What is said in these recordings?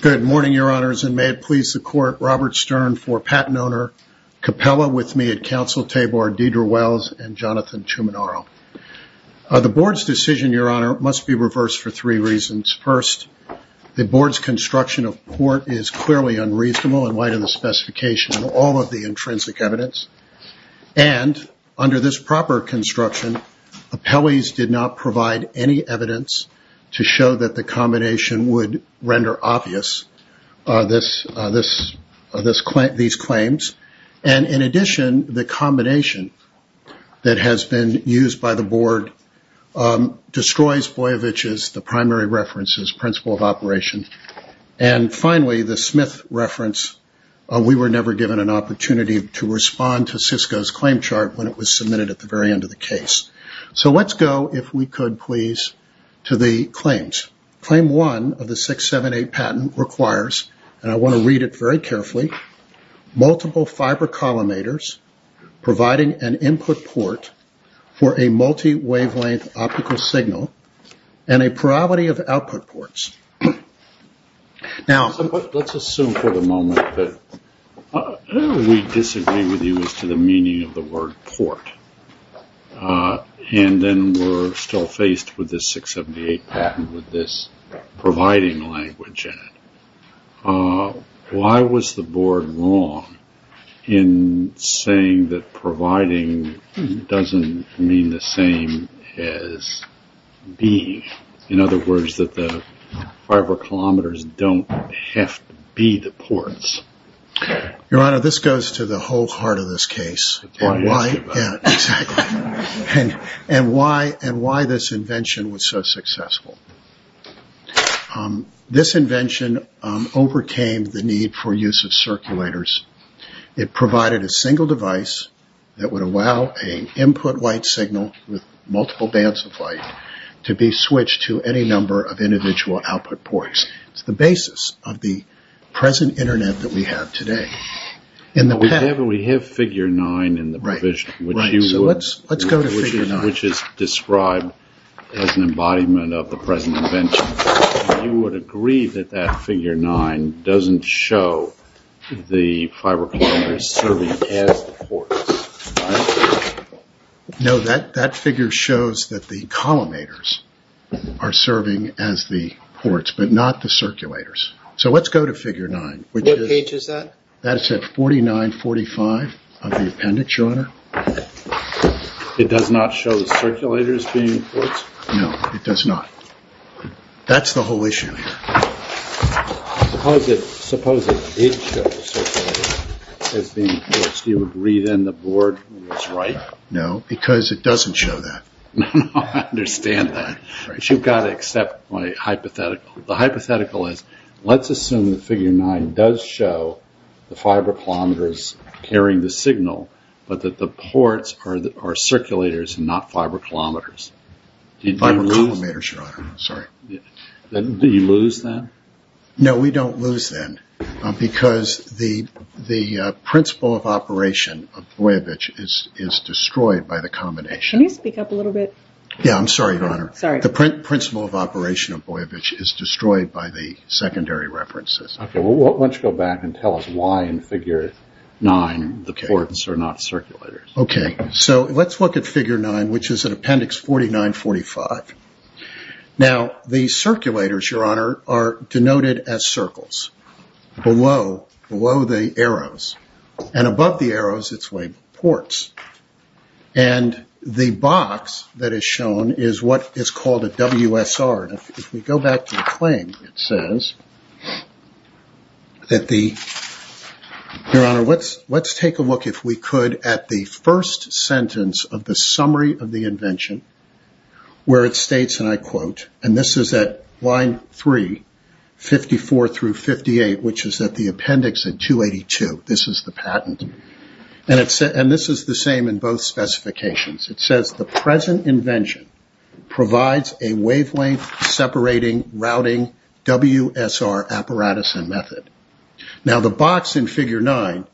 Good morning, Your Honors, and may it please the Court, Robert Stern for PatentOwner, Capella, with me at Counsel Table are Deidre Wells and Jonathan Chuminoro. The Board's decision, Your Honor, must be reversed for three reasons. First, the Board's in the light of the specification and all of the intrinsic evidence. And, under this proper construction, appellees did not provide any evidence to show that the combination would render obvious these claims. And, in addition, the combination that has been used by the Board destroys Boyevich's, the primary reference's, principle of operation. And, finally, the Smith reference, we were never given an opportunity to respond to Cisco's claim chart when it was submitted at the very end of the case. So let's go, if we could please, to the claims. Claim 1 of the 678 patent requires, and I want to read it very carefully, multiple fiber collimators providing an input port for a Now, let's assume for the moment that we disagree with you as to the meaning of the word port. And then we're still faced with this 678 patent with this providing language in it. Why was the Board wrong in saying that providing doesn't mean the same as being? In other words, that the fiber collimators don't have to be the ports. Your Honor, this goes to the whole heart of this case. The point you're asking about. Yeah, exactly. And why this invention was so successful. This invention overcame the need for use of circulators. It provided a single device that would allow an input white individual output ports. It's the basis of the present internet that we have today. We have figure 9 in the provision, which is described as an embodiment of the present invention. You would agree that that figure 9 doesn't show the fiber collimators serving as the ports, right? No, that that figure shows that the collimators are serving as the ports, but not the circulators. So let's go to figure 9. What page is that? That is at 4945 of the appendix, Your Honor. It does not show the circulators being ports? No, it does not. That's the whole issue here. Suppose it did show circulators as being ports. Do you agree then the board is right? No, because it doesn't show that. No, I understand that. But you've got to accept my hypothetical. The hypothetical is, let's assume that figure 9 does show the fiber collimators carrying the signal, but that the ports are circulators and not fiber collimators. Fiber collimators, Your Honor. Sorry. Did you lose that? No, we don't lose that, because the principle of operation of Boyevich is destroyed by the combination. Can you speak up a little bit? Yeah, I'm sorry, Your Honor. Sorry. The principle of operation of Boyevich is destroyed by the secondary references. Okay, well, why don't you go back and tell us why in figure 9 the ports are not circulators. Okay, so let's look at figure 9, which is in appendix 4945. Now, the circulators, Your Honor, are denoted as circles below the arrows. And above the arrows, it's labeled ports. And the box that is shown is what is called a WSR. If we go back to the claim, it says that the, Your Honor, let's take a look, if we could, at the first sentence of the summary of the invention, where it states, and I quote, and this is at line 3, 54 through 58, which is at the appendix at 282. This is the patent. And this is the same in both specifications. It says, the present invention provides a wavelength-separating routing WSR apparatus and method. Now, the box in figure 9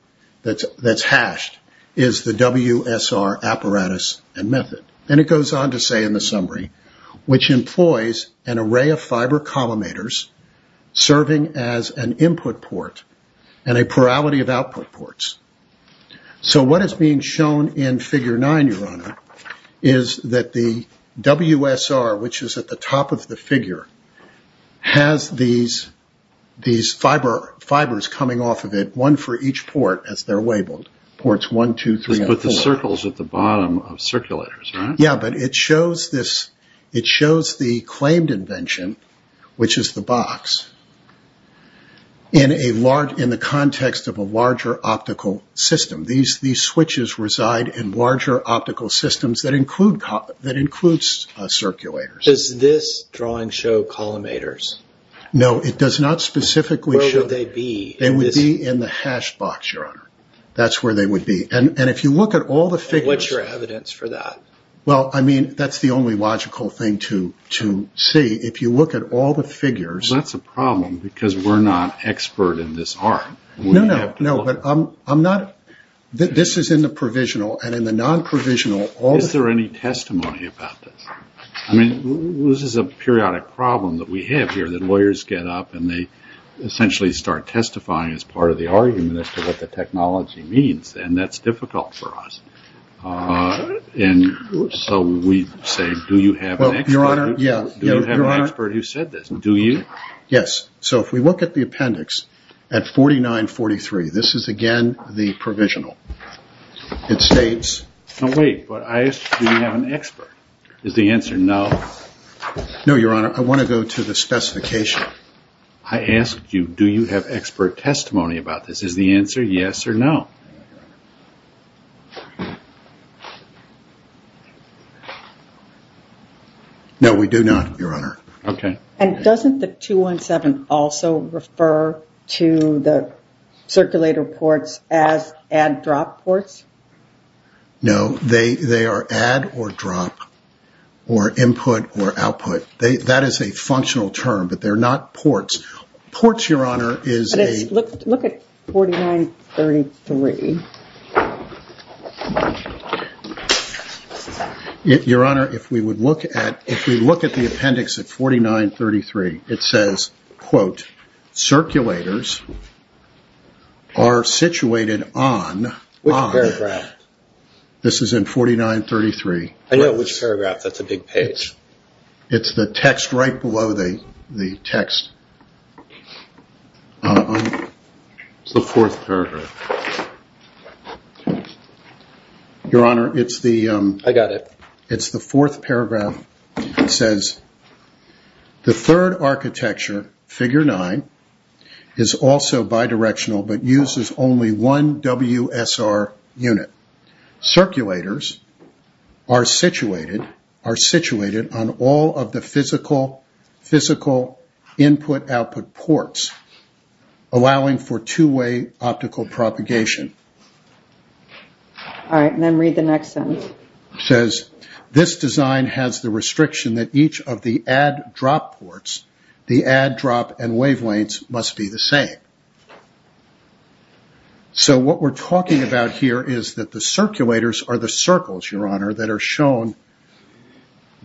that's hashed is the WSR apparatus and method. And it goes on to say in the summary, which employs an array of fiber collimators serving as an input port and a plurality of output ports. So what is being shown in figure 9, Your Honor, is that the WSR, which is at the top of the figure, has these fibers coming off of it, one for each port, as they're labeled, ports 1, 2, 3, and 4. Let's put the circles at the bottom of circulators, right? Yeah, but it shows the claimed invention, which is the box, in the context of a larger set of optical systems that includes circulators. Does this drawing show collimators? No, it does not specifically show them. Where would they be? They would be in the hash box, Your Honor. That's where they would be. And if you look at all the figures... And what's your evidence for that? Well, I mean, that's the only logical thing to see. If you look at all the figures... Well, that's a problem, because we're not expert in this art. No, but I'm not... This is in the provisional, and in the non-provisional... Is there any testimony about this? I mean, this is a periodic problem that we have here, that lawyers get up and they essentially start testifying as part of the argument as to what the technology means, and that's difficult for us. And so we say, do you have an expert? Well, Your Honor, yeah. Do you have an expert who said this? Do you? Yes. So if we look at the appendix at 4943, this is again the provisional. It states... Now wait, but I asked, do you have an expert? Is the answer no? No, Your Honor. I want to go to the specification. I asked you, do you have expert testimony about this? Is the answer yes or no? No, we do not, Your Honor. Okay. And doesn't the 217 also refer to the circulator ports as add-drop ports? No, they are add or drop, or input or output. That is a functional term, but they're not ports. Ports, Your Honor, is a... Look at 4933. Your Honor, if we look at the appendix at 4933, it says, quote, circulators are situated on... Which paragraph? This is in 4933. I know which paragraph. That's a big page. It's the text right below the text. It's the fourth paragraph. Your Honor, it's the... I got it. It's the fourth paragraph. It says, the third architecture, figure nine, is also bidirectional, but uses only one WSR unit. Circulators are situated on all of the physical input-output ports, allowing for two-way optical propagation. All right, and then read the next sentence. It says, this design has the restriction that each of the add-drop ports, the add-drop and wavelengths, must be the same. What we're talking about here is that the circulators are the circles, Your Honor, that are shown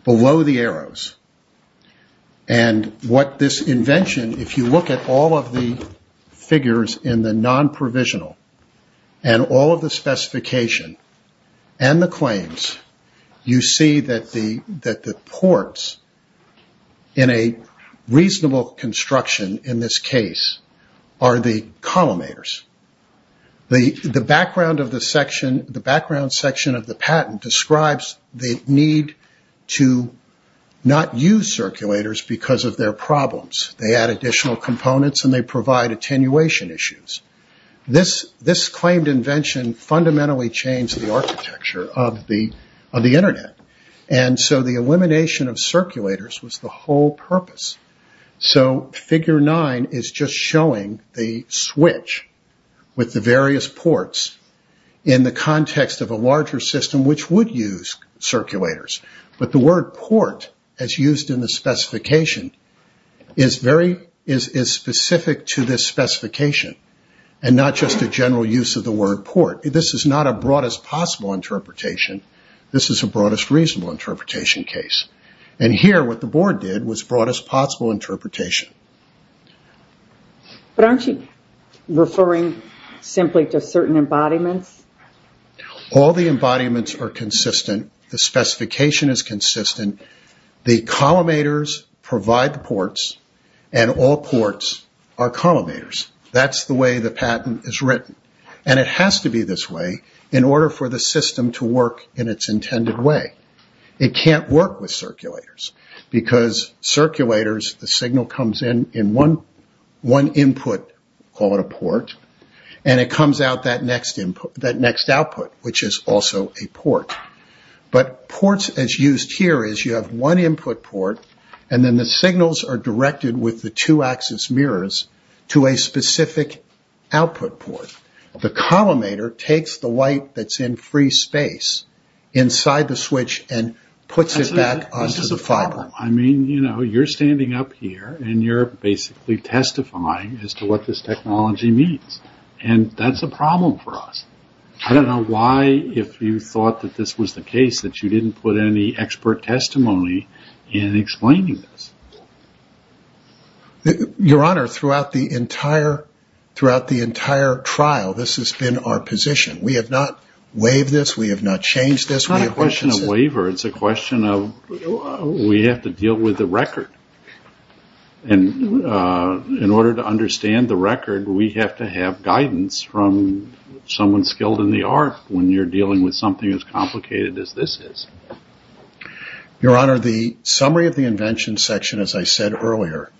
below the arrows. What this invention, if you look at all of the figures in the non-provisional, and all of the specification, and the claims, you see that the ports, in a reasonable construction in this case, are the collimators. The background section of the patent describes the need to not use circulators because of their problems. They add additional components, and they provide attenuation issues. This claimed invention fundamentally changed the architecture of the Internet. The elimination of circulators was the whole purpose. Figure nine is just showing the switch with the various ports in the context of a larger system, which would use circulators. But the word port, as used in the specification, is specific to this specification, and not just a general use of the word port. This is not a broadest possible interpretation. This is a broadest reasonable interpretation case. And here, what the board did was broadest possible interpretation. But aren't you referring simply to certain embodiments? All the embodiments are consistent. The specification is consistent. The collimators provide the ports, and all ports are collimators. That's the way the patent is written. And it has to be this way in order for the system to work in its intended way. It can't work with circulators because circulators, the signal comes in in one input, call it a port, and it comes out that next output, which is also a port. But ports, as used here, is you have one input port, and then the signals are directed with the two-axis mirrors to a specific output port. The collimator takes the light that's in free space inside the switch and puts it back onto the fiber. I mean, you know, you're standing up here, and you're basically testifying as to what this technology means. And that's a problem for us. I don't know why, if you thought that this was the case, that you didn't put any expert testimony in explaining this. Your Honor, throughout the entire trial, this has been our position. We have not waived this. We have not changed this. It's not a question of waiver. It's a question of we have to deal with the record. And in order to understand the record, we have to have guidance from someone skilled in the art when you're dealing with something as complicated as this is. Your Honor, the summary of the invention section, as I said earlier,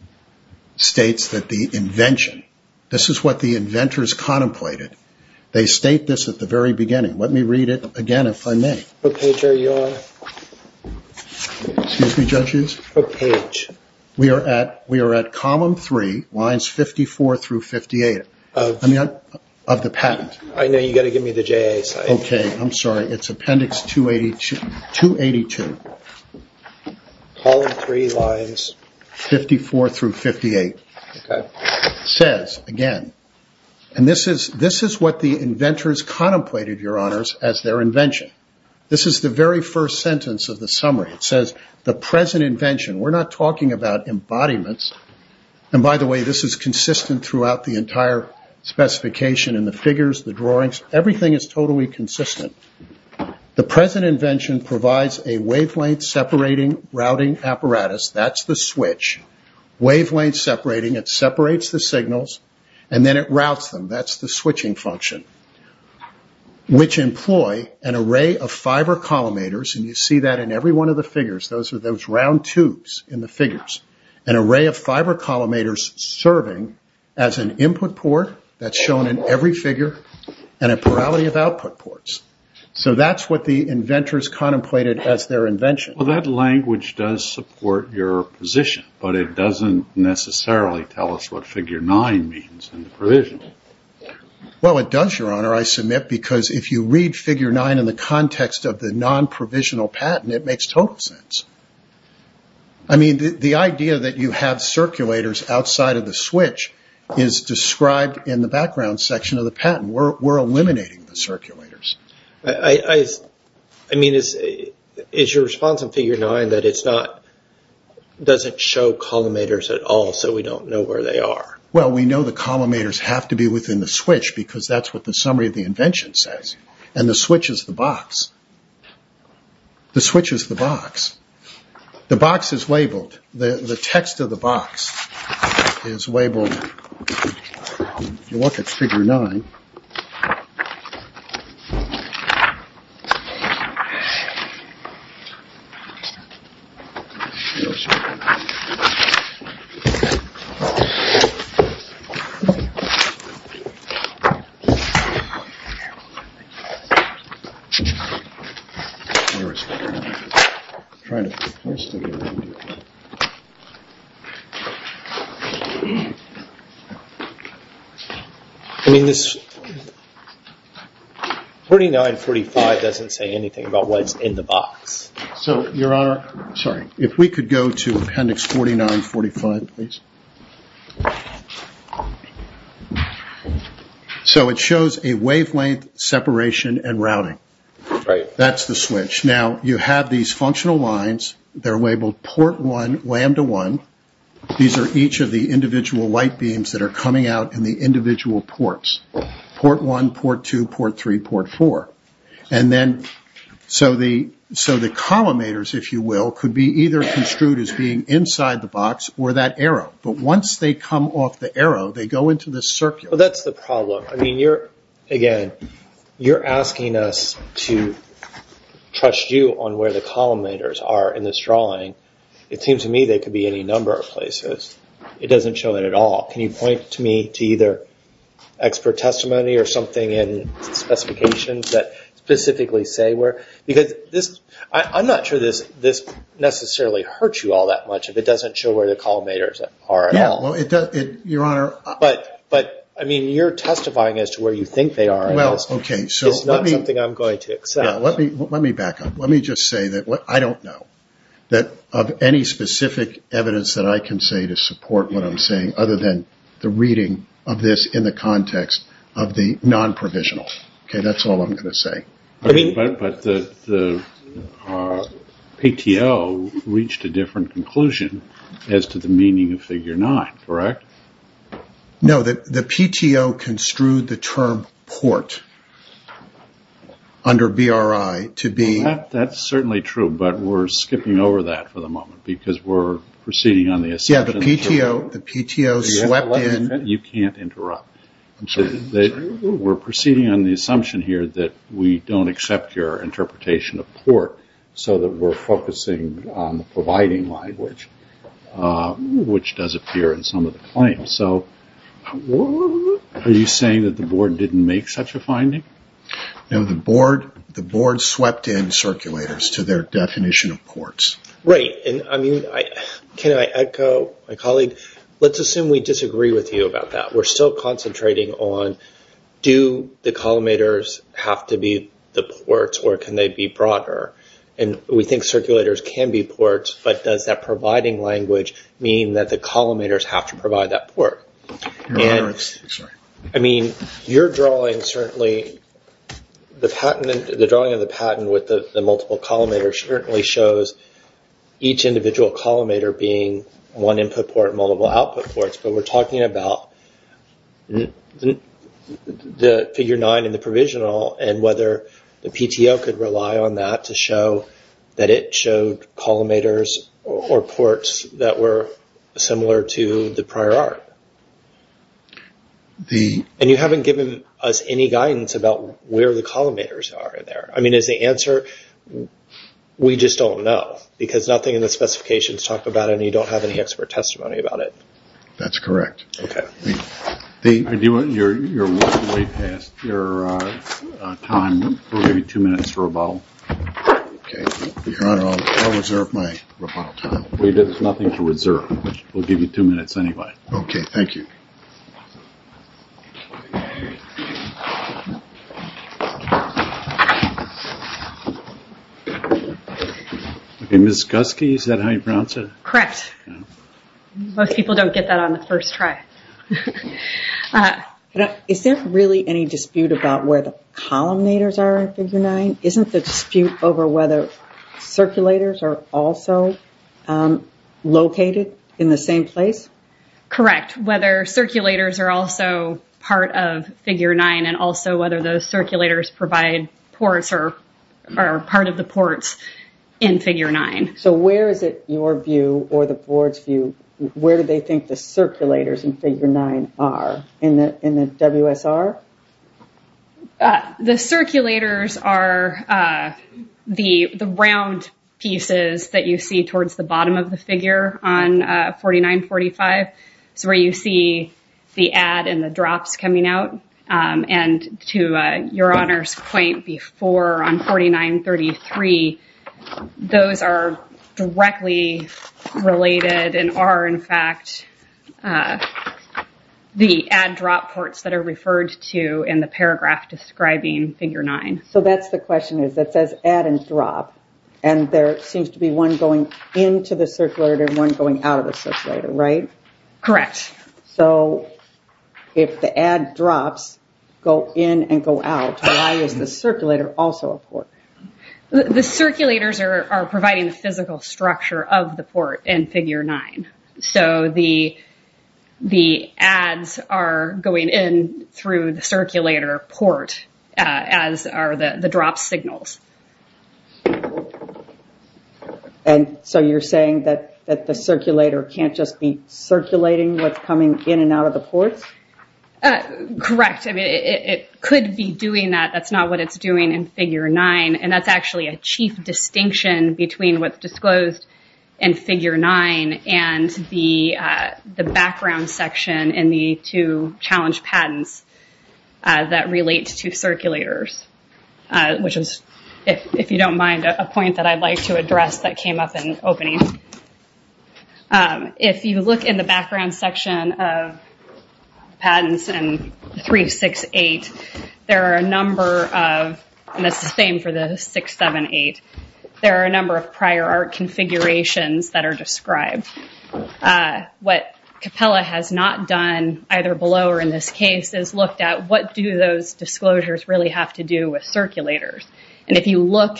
states that the invention, this is what the inventors contemplated. They state this at the very beginning. Let me read it again, if I may. What page are you on? Excuse me, judges? What page? We are at column three, lines 54 through 58 of the patent. I know. You've got to give me the J.A. site. Okay. I'm sorry. It's appendix 282. Column three, lines 54 through 58. Okay. It says, again, and this is what the inventors contemplated, Your Honors, as their invention. This is the very first sentence of the summary. It says, the present invention. We're not talking about embodiments. And by the way, this is consistent throughout the entire specification in the figures, the drawings. Everything is totally consistent. The present invention provides a wavelength-separating routing apparatus. That's the switch. Wavelength-separating. It separates the signals, and then it routes them. That's the switching function, which employ an array of fiber collimators, and you see that in every one of the figures. Those are those round tubes in the figures. An array of fiber collimators serving as an input port that's shown in every figure, and a plurality of output ports. So that's what the inventors contemplated as their invention. Well, that language does support your position, but it doesn't necessarily tell us what Figure 9 means in the provision. Well, it does, Your Honor, I submit, because if you read Figure 9 in the context of the non-provisional patent, it makes total sense. I mean, the idea that you have circulators outside of the switch is described in the background section of the patent. We're eliminating the circulators. I mean, is your response in Figure 9 that it doesn't show collimators at all, so we don't know where they are? Well, we know the collimators have to be within the switch, because that's what the summary of the invention says. And the switch is the box. The switch is the box. The box is labeled. The text of the box is labeled. You look at Figure 9. I mean, this 4945 doesn't say anything about what's in the box. So, Your Honor, sorry, if we could go to Appendix 4945, please. So it shows a wavelength separation and routing. That's the switch. Now, you have these functional lines. They're labeled Port 1, Lambda 1. These are each of the individual light beams that are coming out in the individual ports, Port 1, Port 2, Port 3, Port 4. And then so the collimators, if you will, could be either construed as being inside the box or that arrow. But once they come off the arrow, they go into the circuit. Well, that's the problem. I mean, again, you're asking us to trust you on where the collimators are in this drawing. It seems to me they could be any number of places. It doesn't show it at all. Can you point to me to either expert testimony or something in specifications that specifically say where? Because I'm not sure this necessarily hurts you all that much if it doesn't show where the collimators are at all. Yeah, well, it does, Your Honor. But, I mean, you're testifying as to where you think they are. It's not something I'm going to accept. Let me back up. Let me just say that I don't know of any specific evidence that I can say to support what I'm saying other than the reading of this in the context of the non-provisional. Okay, that's all I'm going to say. But the PTO reached a different conclusion as to the meaning of Figure 9, correct? No, the PTO construed the term port under BRI to be... That's certainly true, but we're skipping over that for the moment because we're proceeding on the assumption... Yeah, the PTO swept in... You can't interrupt. I'm sorry. We're proceeding on the assumption here that we don't accept your interpretation of port so that we're focusing on the providing language, which does appear in some of the claims. So are you saying that the Board didn't make such a finding? No, the Board swept in circulators to their definition of ports. Right. And, I mean, can I echo my colleague? Let's assume we disagree with you about that. We're still concentrating on do the collimators have to be the ports or can they be broader? And we think circulators can be ports, but does that providing language mean that the collimators have to provide that port? Sorry. I mean, your drawing certainly, the drawing of the patent with the multiple collimators certainly shows each individual collimator being one input port, multiple output ports, but we're talking about the figure nine in the provisional and whether the PTO could rely on that to show that it showed collimators or ports that were similar to the prior art. And you haven't given us any guidance about where the collimators are in there. I mean, is the answer we just don't know because nothing in the specifications talk about it and you don't have any expert testimony about it. That's correct. Okay. You're way past your time, maybe two minutes for a bottle. Okay. Your Honor, I'll reserve my rebuttal time. There's nothing to reserve. We'll give you two minutes anyway. Okay. Thank you. Ms. Guskey, is that how you pronounce it? Correct. Most people don't get that on the first try. Is there really any dispute about where the collimators are in figure nine? Isn't the dispute over whether circulators are also located in the same place? Correct. Whether circulators are also part of figure nine and also whether those circulators provide ports or are part of the ports in figure nine. So where is it your view or the board's view, where do they think the circulators in figure nine are in the WSR? The circulators are the round pieces that you see towards the bottom of the figure on 4945. It's where you see the add and the drops coming out. And to your Honor's point before on 4933, those are directly related and are in fact the add drop ports that are referred to in the paragraph describing figure nine. So that's the question is that says add and drop and there seems to be one going into the circulator and one going out of the circulator, right? Correct. So if the add drops go in and go out, why is the circulator also a port? The circulators are providing the physical structure of the port in figure nine. So the adds are going in through the circulator port as are the drop signals. And so you're saying that the circulator can't just be circulating what's coming in and out of the ports? Correct. In fact, it could be doing that. That's not what it's doing in figure nine. And that's actually a chief distinction between what's disclosed in figure nine and the background section in the two challenge patents that relate to circulators. Which is, if you don't mind, a point that I'd like to address that came up in opening. If you look in the background section of patents in 368, there are a number of, and that's the same for the 678, there are a number of prior art configurations that are described. What Capella has not done, either below or in this case, is looked at what do those disclosures really have to do with circulators. And if you look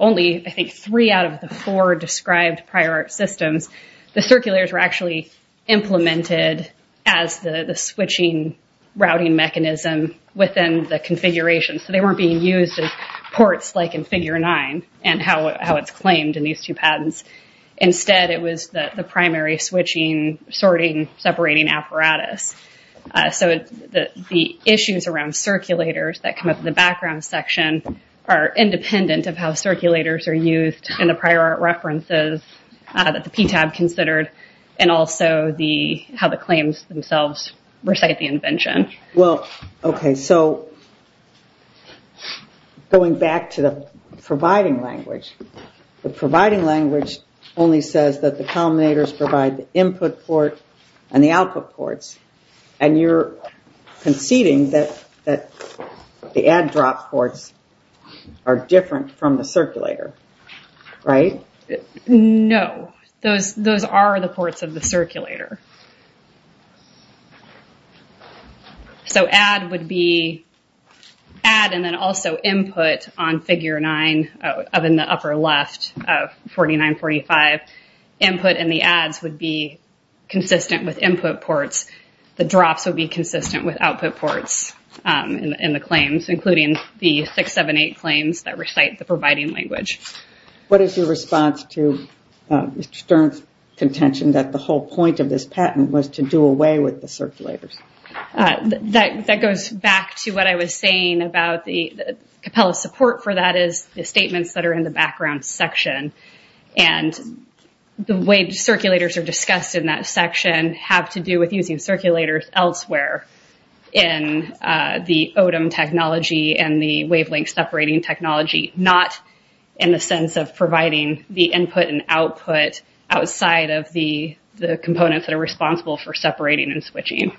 only, I think, three out of the four described prior art systems, the circulators were actually implemented as the switching routing mechanism within the configuration. So they weren't being used as ports like in figure nine and how it's claimed in these two patents. Instead, it was the primary switching, sorting, separating apparatus. So the issues around circulators that come up in the background section are independent of how circulators are used in the prior art references that the PTAB considered and also how the claims themselves recite the invention. Well, okay, so going back to the providing language, the providing language only says that the culminators provide the input port and the output ports, and you're conceding that the add-drop ports are different from the circulator, right? No, those are the ports of the circulator. So add would be add and then also input on figure nine in the upper left of 4945. Input in the adds would be consistent with input ports. The drops would be consistent with output ports in the claims, including the 678 claims that recite the providing language. What is your response to Mr. Stern's contention that the whole point of this document and this patent was to do away with the circulators? That goes back to what I was saying about the capella support for that is the statements that are in the background section, and the way circulators are discussed in that section have to do with using circulators elsewhere in the ODEM technology and the wavelength separating technology, not in the sense of providing the input and output outside of the components that are responsible for separating and switching.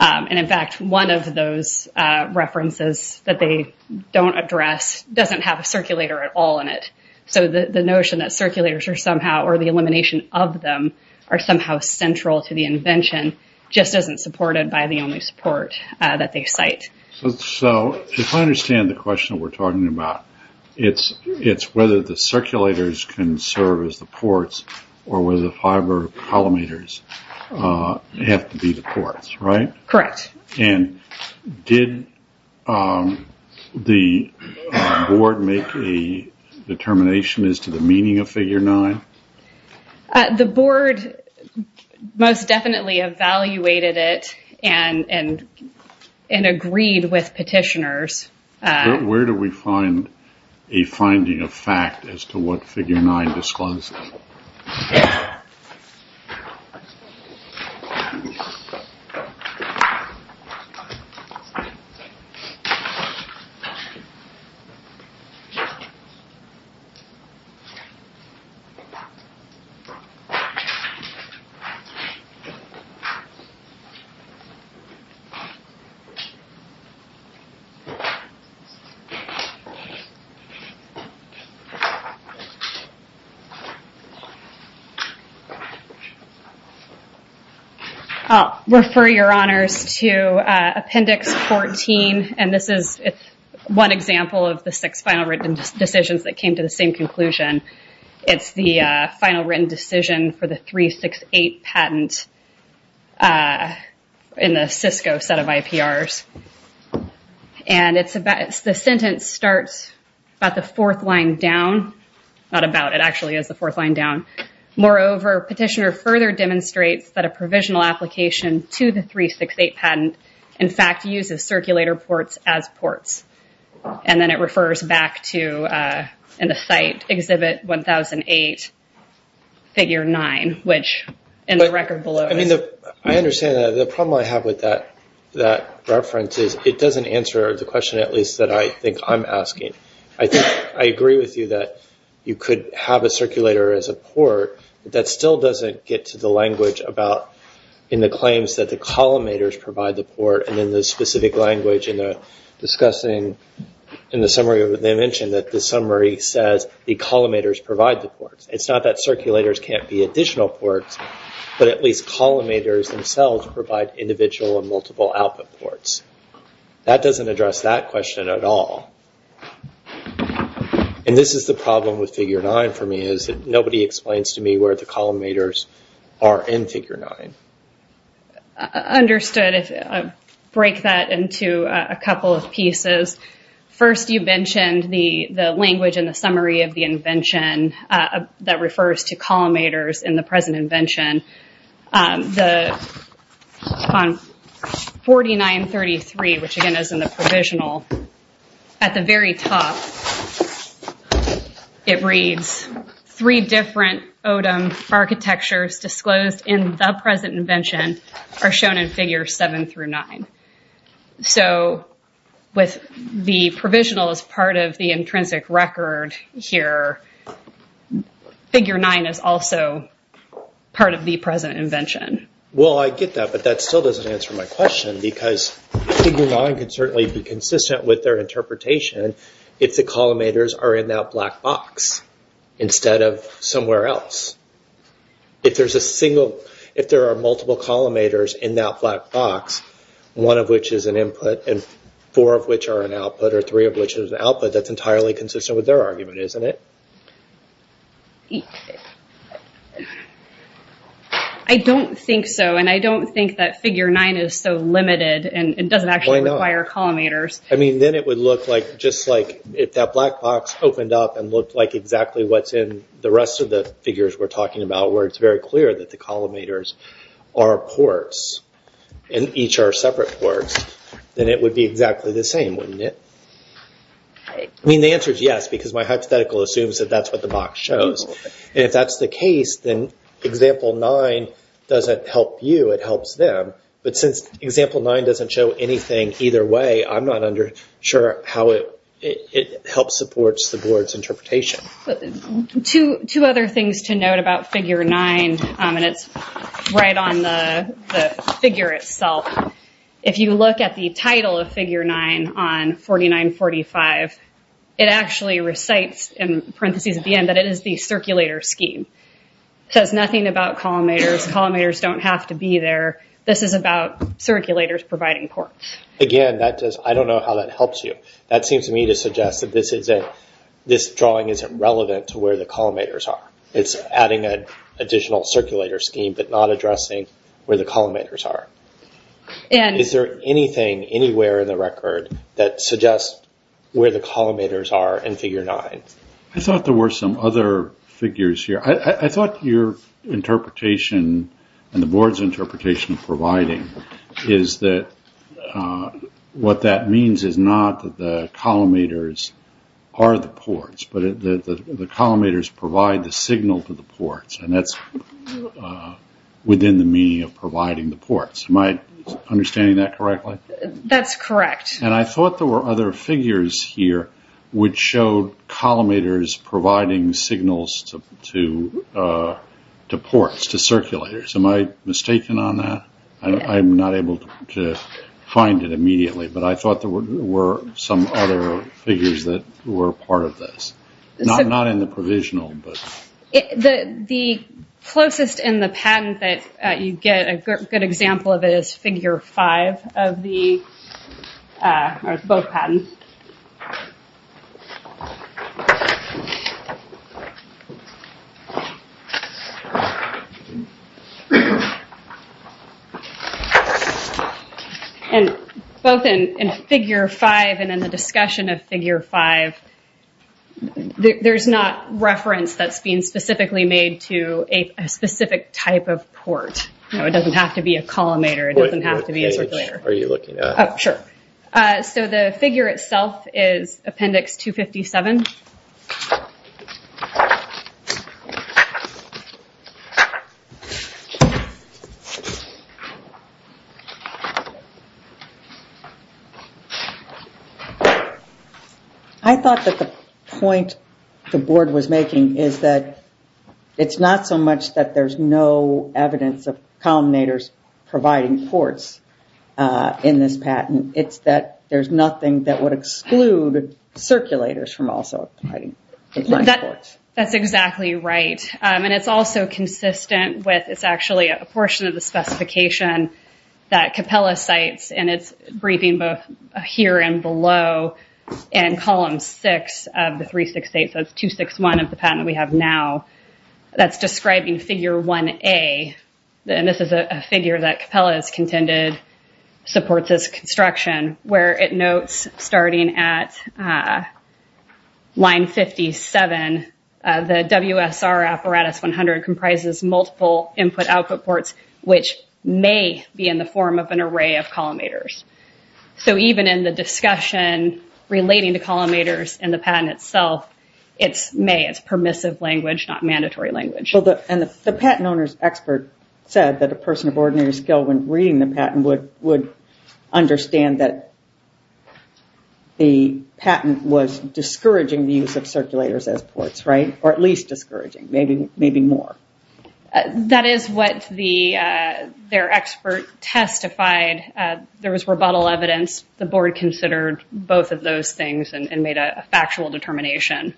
In fact, one of those references that they don't address doesn't have a circulator at all in it. So the notion that circulators are somehow, or the elimination of them, are somehow central to the invention just isn't supported by the only support that they cite. So if I understand the question we're talking about, it's whether the circulators can serve as the ports or whether the fiber collimators have to be the ports, right? Correct. And did the board make a determination as to the meaning of Figure 9? The board most definitely evaluated it and agreed with petitioners. Where do we find a finding of fact as to what Figure 9 discloses? I'll refer your honors to Appendix 14, and this is one example of the six final written decisions that came to the same conclusion. It's the final written decision for the 368 patent in the Cisco set of IPRs. And the sentence starts about the fourth line down. Not about, it actually is the fourth line down. Moreover, petitioner further demonstrates that a provisional application to the 368 patent, and then it refers back to, in the site, Exhibit 1008, Figure 9, which in the record below. I understand that. The problem I have with that reference is it doesn't answer the question at least that I think I'm asking. I agree with you that you could have a circulator as a port, but that still doesn't get to the language in the claims that the collimators provide the port and in the specific language in discussing in the summary, they mentioned that the summary says the collimators provide the ports. It's not that circulators can't be additional ports, but at least collimators themselves provide individual and multiple output ports. That doesn't address that question at all. And this is the problem with Figure 9 for me, is that nobody explains to me where the collimators are in Figure 9. Understood. Break that into a couple of pieces. First, you mentioned the language in the summary of the invention that refers to collimators in the present invention. On 4933, which again is in the provisional, at the very top, it reads, three different Odom architectures disclosed in the present invention are shown in Figure 7 through 9. So with the provisional as part of the intrinsic record here, Figure 9 is also part of the present invention. Well, I get that, but that still doesn't answer my question, because Figure 9 can certainly be consistent with their interpretation. It's that collimators are in that black box instead of somewhere else. If there are multiple collimators in that black box, one of which is an input and four of which are an output, or three of which is an output, that's entirely consistent with their argument, isn't it? I don't think so. And I don't think that Figure 9 is so limited and doesn't actually require collimators. I mean, then it would look like, just like if that black box opened up and looked like exactly what's in the rest of the figures we're talking about, where it's very clear that the collimators are ports and each are separate ports, then it would be exactly the same, wouldn't it? I mean, the answer is yes, because my hypothetical assumes that that's what the box shows. And if that's the case, then Example 9 doesn't help you, it helps them. But since Example 9 doesn't show anything either way, I'm not sure how it helps support the board's interpretation. Two other things to note about Figure 9, and it's right on the figure itself. If you look at the title of Figure 9 on 4945, it actually recites in parentheses at the end that it is the circulator scheme. It says nothing about collimators. Collimators don't have to be there. This is about circulators providing ports. Again, I don't know how that helps you. That seems to me to suggest that this drawing isn't relevant to where the collimators are. It's adding an additional circulator scheme but not addressing where the collimators are. Is there anything anywhere in the record that suggests where the collimators are in Figure 9? I thought there were some other figures here. I thought your interpretation and the board's interpretation of providing is that what that means is not that the collimators are the ports, but the collimators provide the signal to the ports, and that's within the meaning of providing the ports. Am I understanding that correctly? That's correct. I thought there were other figures here which showed collimators providing signals to ports, to circulators. Am I mistaken on that? I'm not able to find it immediately, but I thought there were some other figures that were part of this, not in the provisional. The closest in the patent that you get, a good example of it is Figure 5 of both patents. Both in Figure 5 and in the discussion of Figure 5, there's not reference that's being specifically made to a specific type of port. It doesn't have to be a collimator, it doesn't have to be a circulator. What page are you looking at? Sure. The figure itself is Appendix 257. I thought that the point the board was making is that it's not so much that there's no evidence of collimators providing ports in this patent, it's that there's nothing that would exclude circulators from also providing ports. That's exactly right. It's also consistent with, it's actually a portion of the specification that Capella cites, and it's briefing both here and below in Column 6 of the 368, so it's 261 of the patent we have now, that's describing Figure 1A. This is a figure that Capella has contended supports this construction, where it notes starting at line 57, the WSR Apparatus 100 comprises multiple input-output ports, which may be in the form of an array of collimators. So even in the discussion relating to collimators and the patent itself, it's may, it's permissive language, not mandatory language. And the patent owner's expert said that a person of ordinary skill when reading the patent would understand that the patent was discouraging the use of circulators as ports, right? Or at least discouraging, maybe more. That is what their expert testified. There was rebuttal evidence. The board considered both of those things and made a factual determination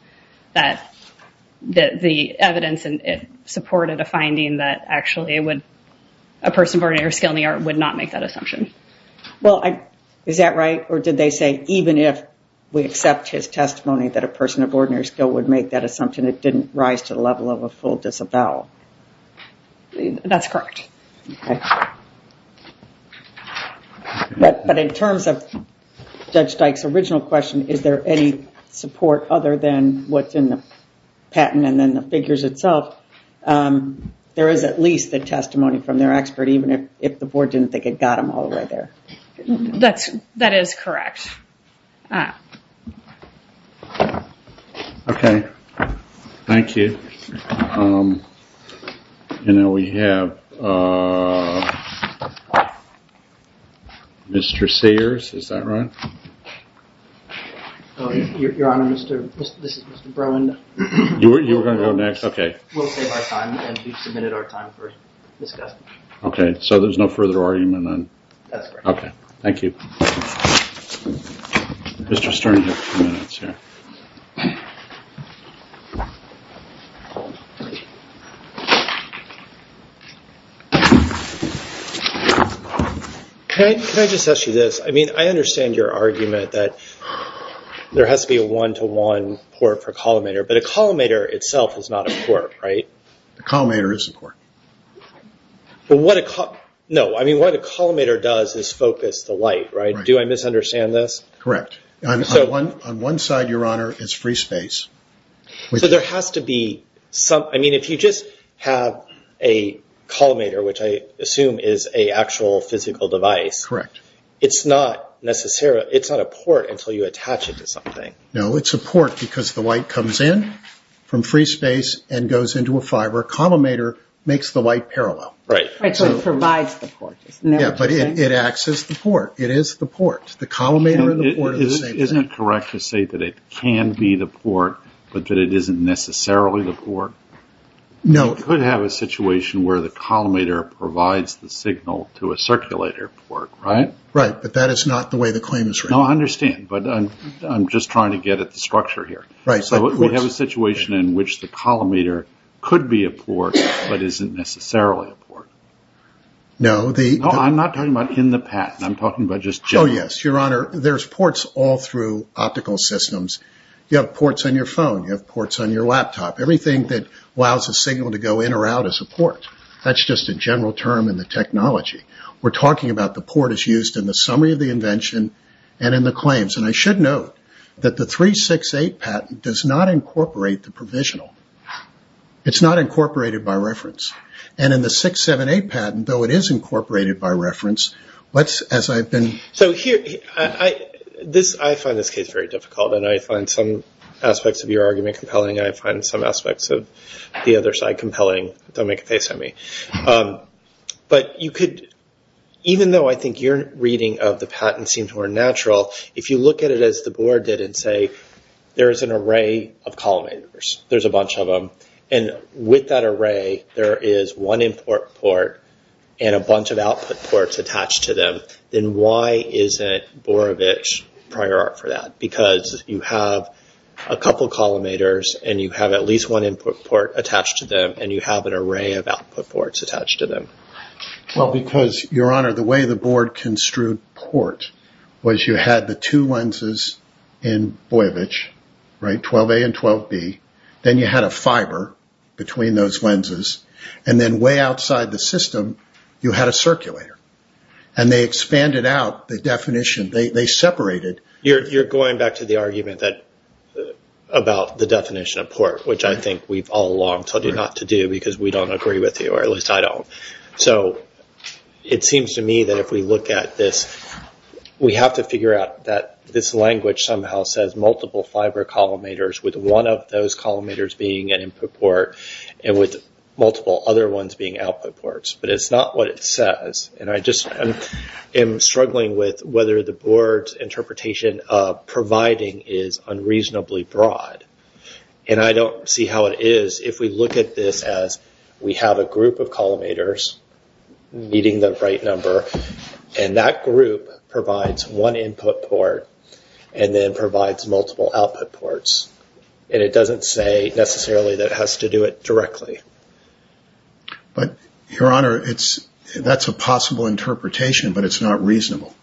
that the evidence supported a finding that actually it would, a person of ordinary skill in the art would not make that assumption. Well, is that right? Or did they say even if we accept his testimony that a person of ordinary skill would make that assumption, it didn't rise to the level of a full disavowal? That's correct. Okay. But in terms of Judge Dyke's original question, is there any support other than what's in the patent and then the figures itself? There is at least a testimony from their expert, even if the board didn't think it got them all the way there. That is correct. Okay. Thank you. And now we have Mr. Sears. Is that right? Your Honor, this is Mr. Bruin. You were going to go next? Okay. We'll save our time, and we've submitted our time for discussion. Okay. So there's no further argument then? That's correct. Okay. Thank you. Mr. Stern has a few minutes here. Can I just ask you this? I mean, I understand your argument that there has to be a one-to-one port for a collimator, but a collimator itself is not a port, right? A collimator is a port. No, I mean, what a collimator does is focus the light, right? Do I misunderstand this? Correct. On one side, Your Honor, is free space. So there has to be some – I mean, if you just have a collimator, which I assume is an actual physical device. Correct. It's not a port until you attach it to something. No, it's a port because the light comes in from free space and goes into a fiber. So a collimator makes the light parallel. Right. So it provides the port. Yeah, but it acts as the port. It is the port. The collimator and the port are the same thing. Isn't it correct to say that it can be the port but that it isn't necessarily the port? No. You could have a situation where the collimator provides the signal to a circulator port, right? Right, but that is not the way the claim is written. No, I understand, but I'm just trying to get at the structure here. Right. So we have a situation in which the collimator could be a port but isn't necessarily a port. No, I'm not talking about in the patent. I'm talking about just generally. Oh, yes, Your Honor. There's ports all through optical systems. You have ports on your phone. You have ports on your laptop. Everything that allows a signal to go in or out is a port. That's just a general term in the technology. We're talking about the port is used in the summary of the invention and in the claims. I should note that the 368 patent does not incorporate the provisional. It's not incorporated by reference. In the 678 patent, though it is incorporated by reference, as I've been... I find this case very difficult, and I find some aspects of your argument compelling. I find some aspects of the other side compelling. Don't make a face at me. Even though I think your reading of the patent seems more natural, if you look at it as the board did and say there is an array of collimators, there's a bunch of them, and with that array there is one input port and a bunch of output ports attached to them, then why isn't Borovich prior art for that? Because you have a couple of collimators, and you have at least one input port attached to them, and you have an array of output ports attached to them. Well, because, Your Honor, the way the board construed port was you had the two lenses in Borovich, 12A and 12B, then you had a fiber between those lenses, and then way outside the system you had a circulator, and they expanded out the definition. They separated. You're going back to the argument about the definition of port, which I think we've all long told you not to do because we don't agree with you, or at least I don't. So it seems to me that if we look at this, we have to figure out that this language somehow says multiple fiber collimators with one of those collimators being an input port and with multiple other ones being output ports, but it's not what it says, and I just am struggling with whether the board's interpretation of providing is unreasonably broad, and I don't see how it is. If we look at this as we have a group of collimators meeting the right number, and that group provides one input port and then provides multiple output ports, and it doesn't say necessarily that it has to do it directly. But, Your Honor, that's a possible interpretation, but it's not reasonable.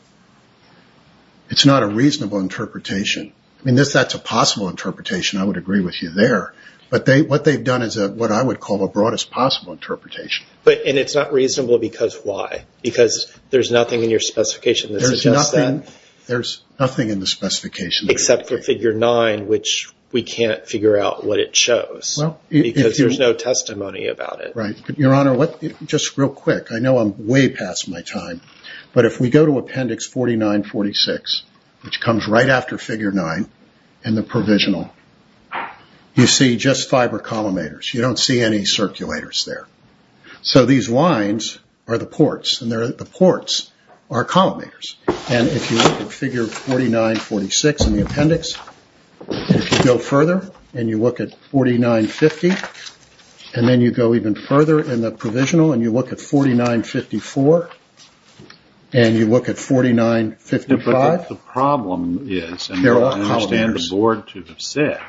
It's not a reasonable interpretation. I mean, that's a possible interpretation. I would agree with you there. But what they've done is what I would call the broadest possible interpretation. And it's not reasonable because why? Because there's nothing in your specification that suggests that? There's nothing in the specification. Except for Figure 9, which we can't figure out what it shows, because there's no testimony about it. Right. Your Honor, just real quick, I know I'm way past my time, but if we go to Appendix 4946, which comes right after Figure 9, and the provisional, you see just fiber collimators. You don't see any circulators there. So these lines are the ports, and the ports are collimators. And if you look at Figure 4946 in the appendix, if you go further and you look at 4950, and then you go even further in the provisional, and you look at 4954, and you look at 4955, the problem is, and I understand the board to have said,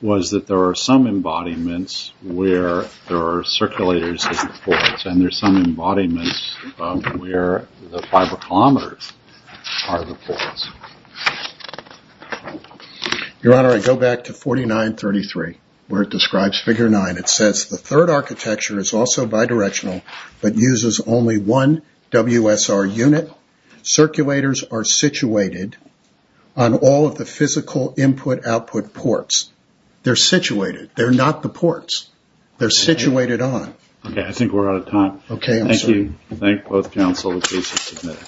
was that there are some embodiments where there are circulators in the ports, and there's some embodiments where the fiber collimators are the ports. Your Honor, I go back to 4933, where it describes Figure 9. It says, The third architecture is also bidirectional, but uses only one WSR unit. Circulators are situated on all of the physical input-output ports. They're situated. They're not the ports. They're situated on. Okay, I think we're out of time. Okay, I'm sorry. Thank you. Thank both counsel. The case is submitted.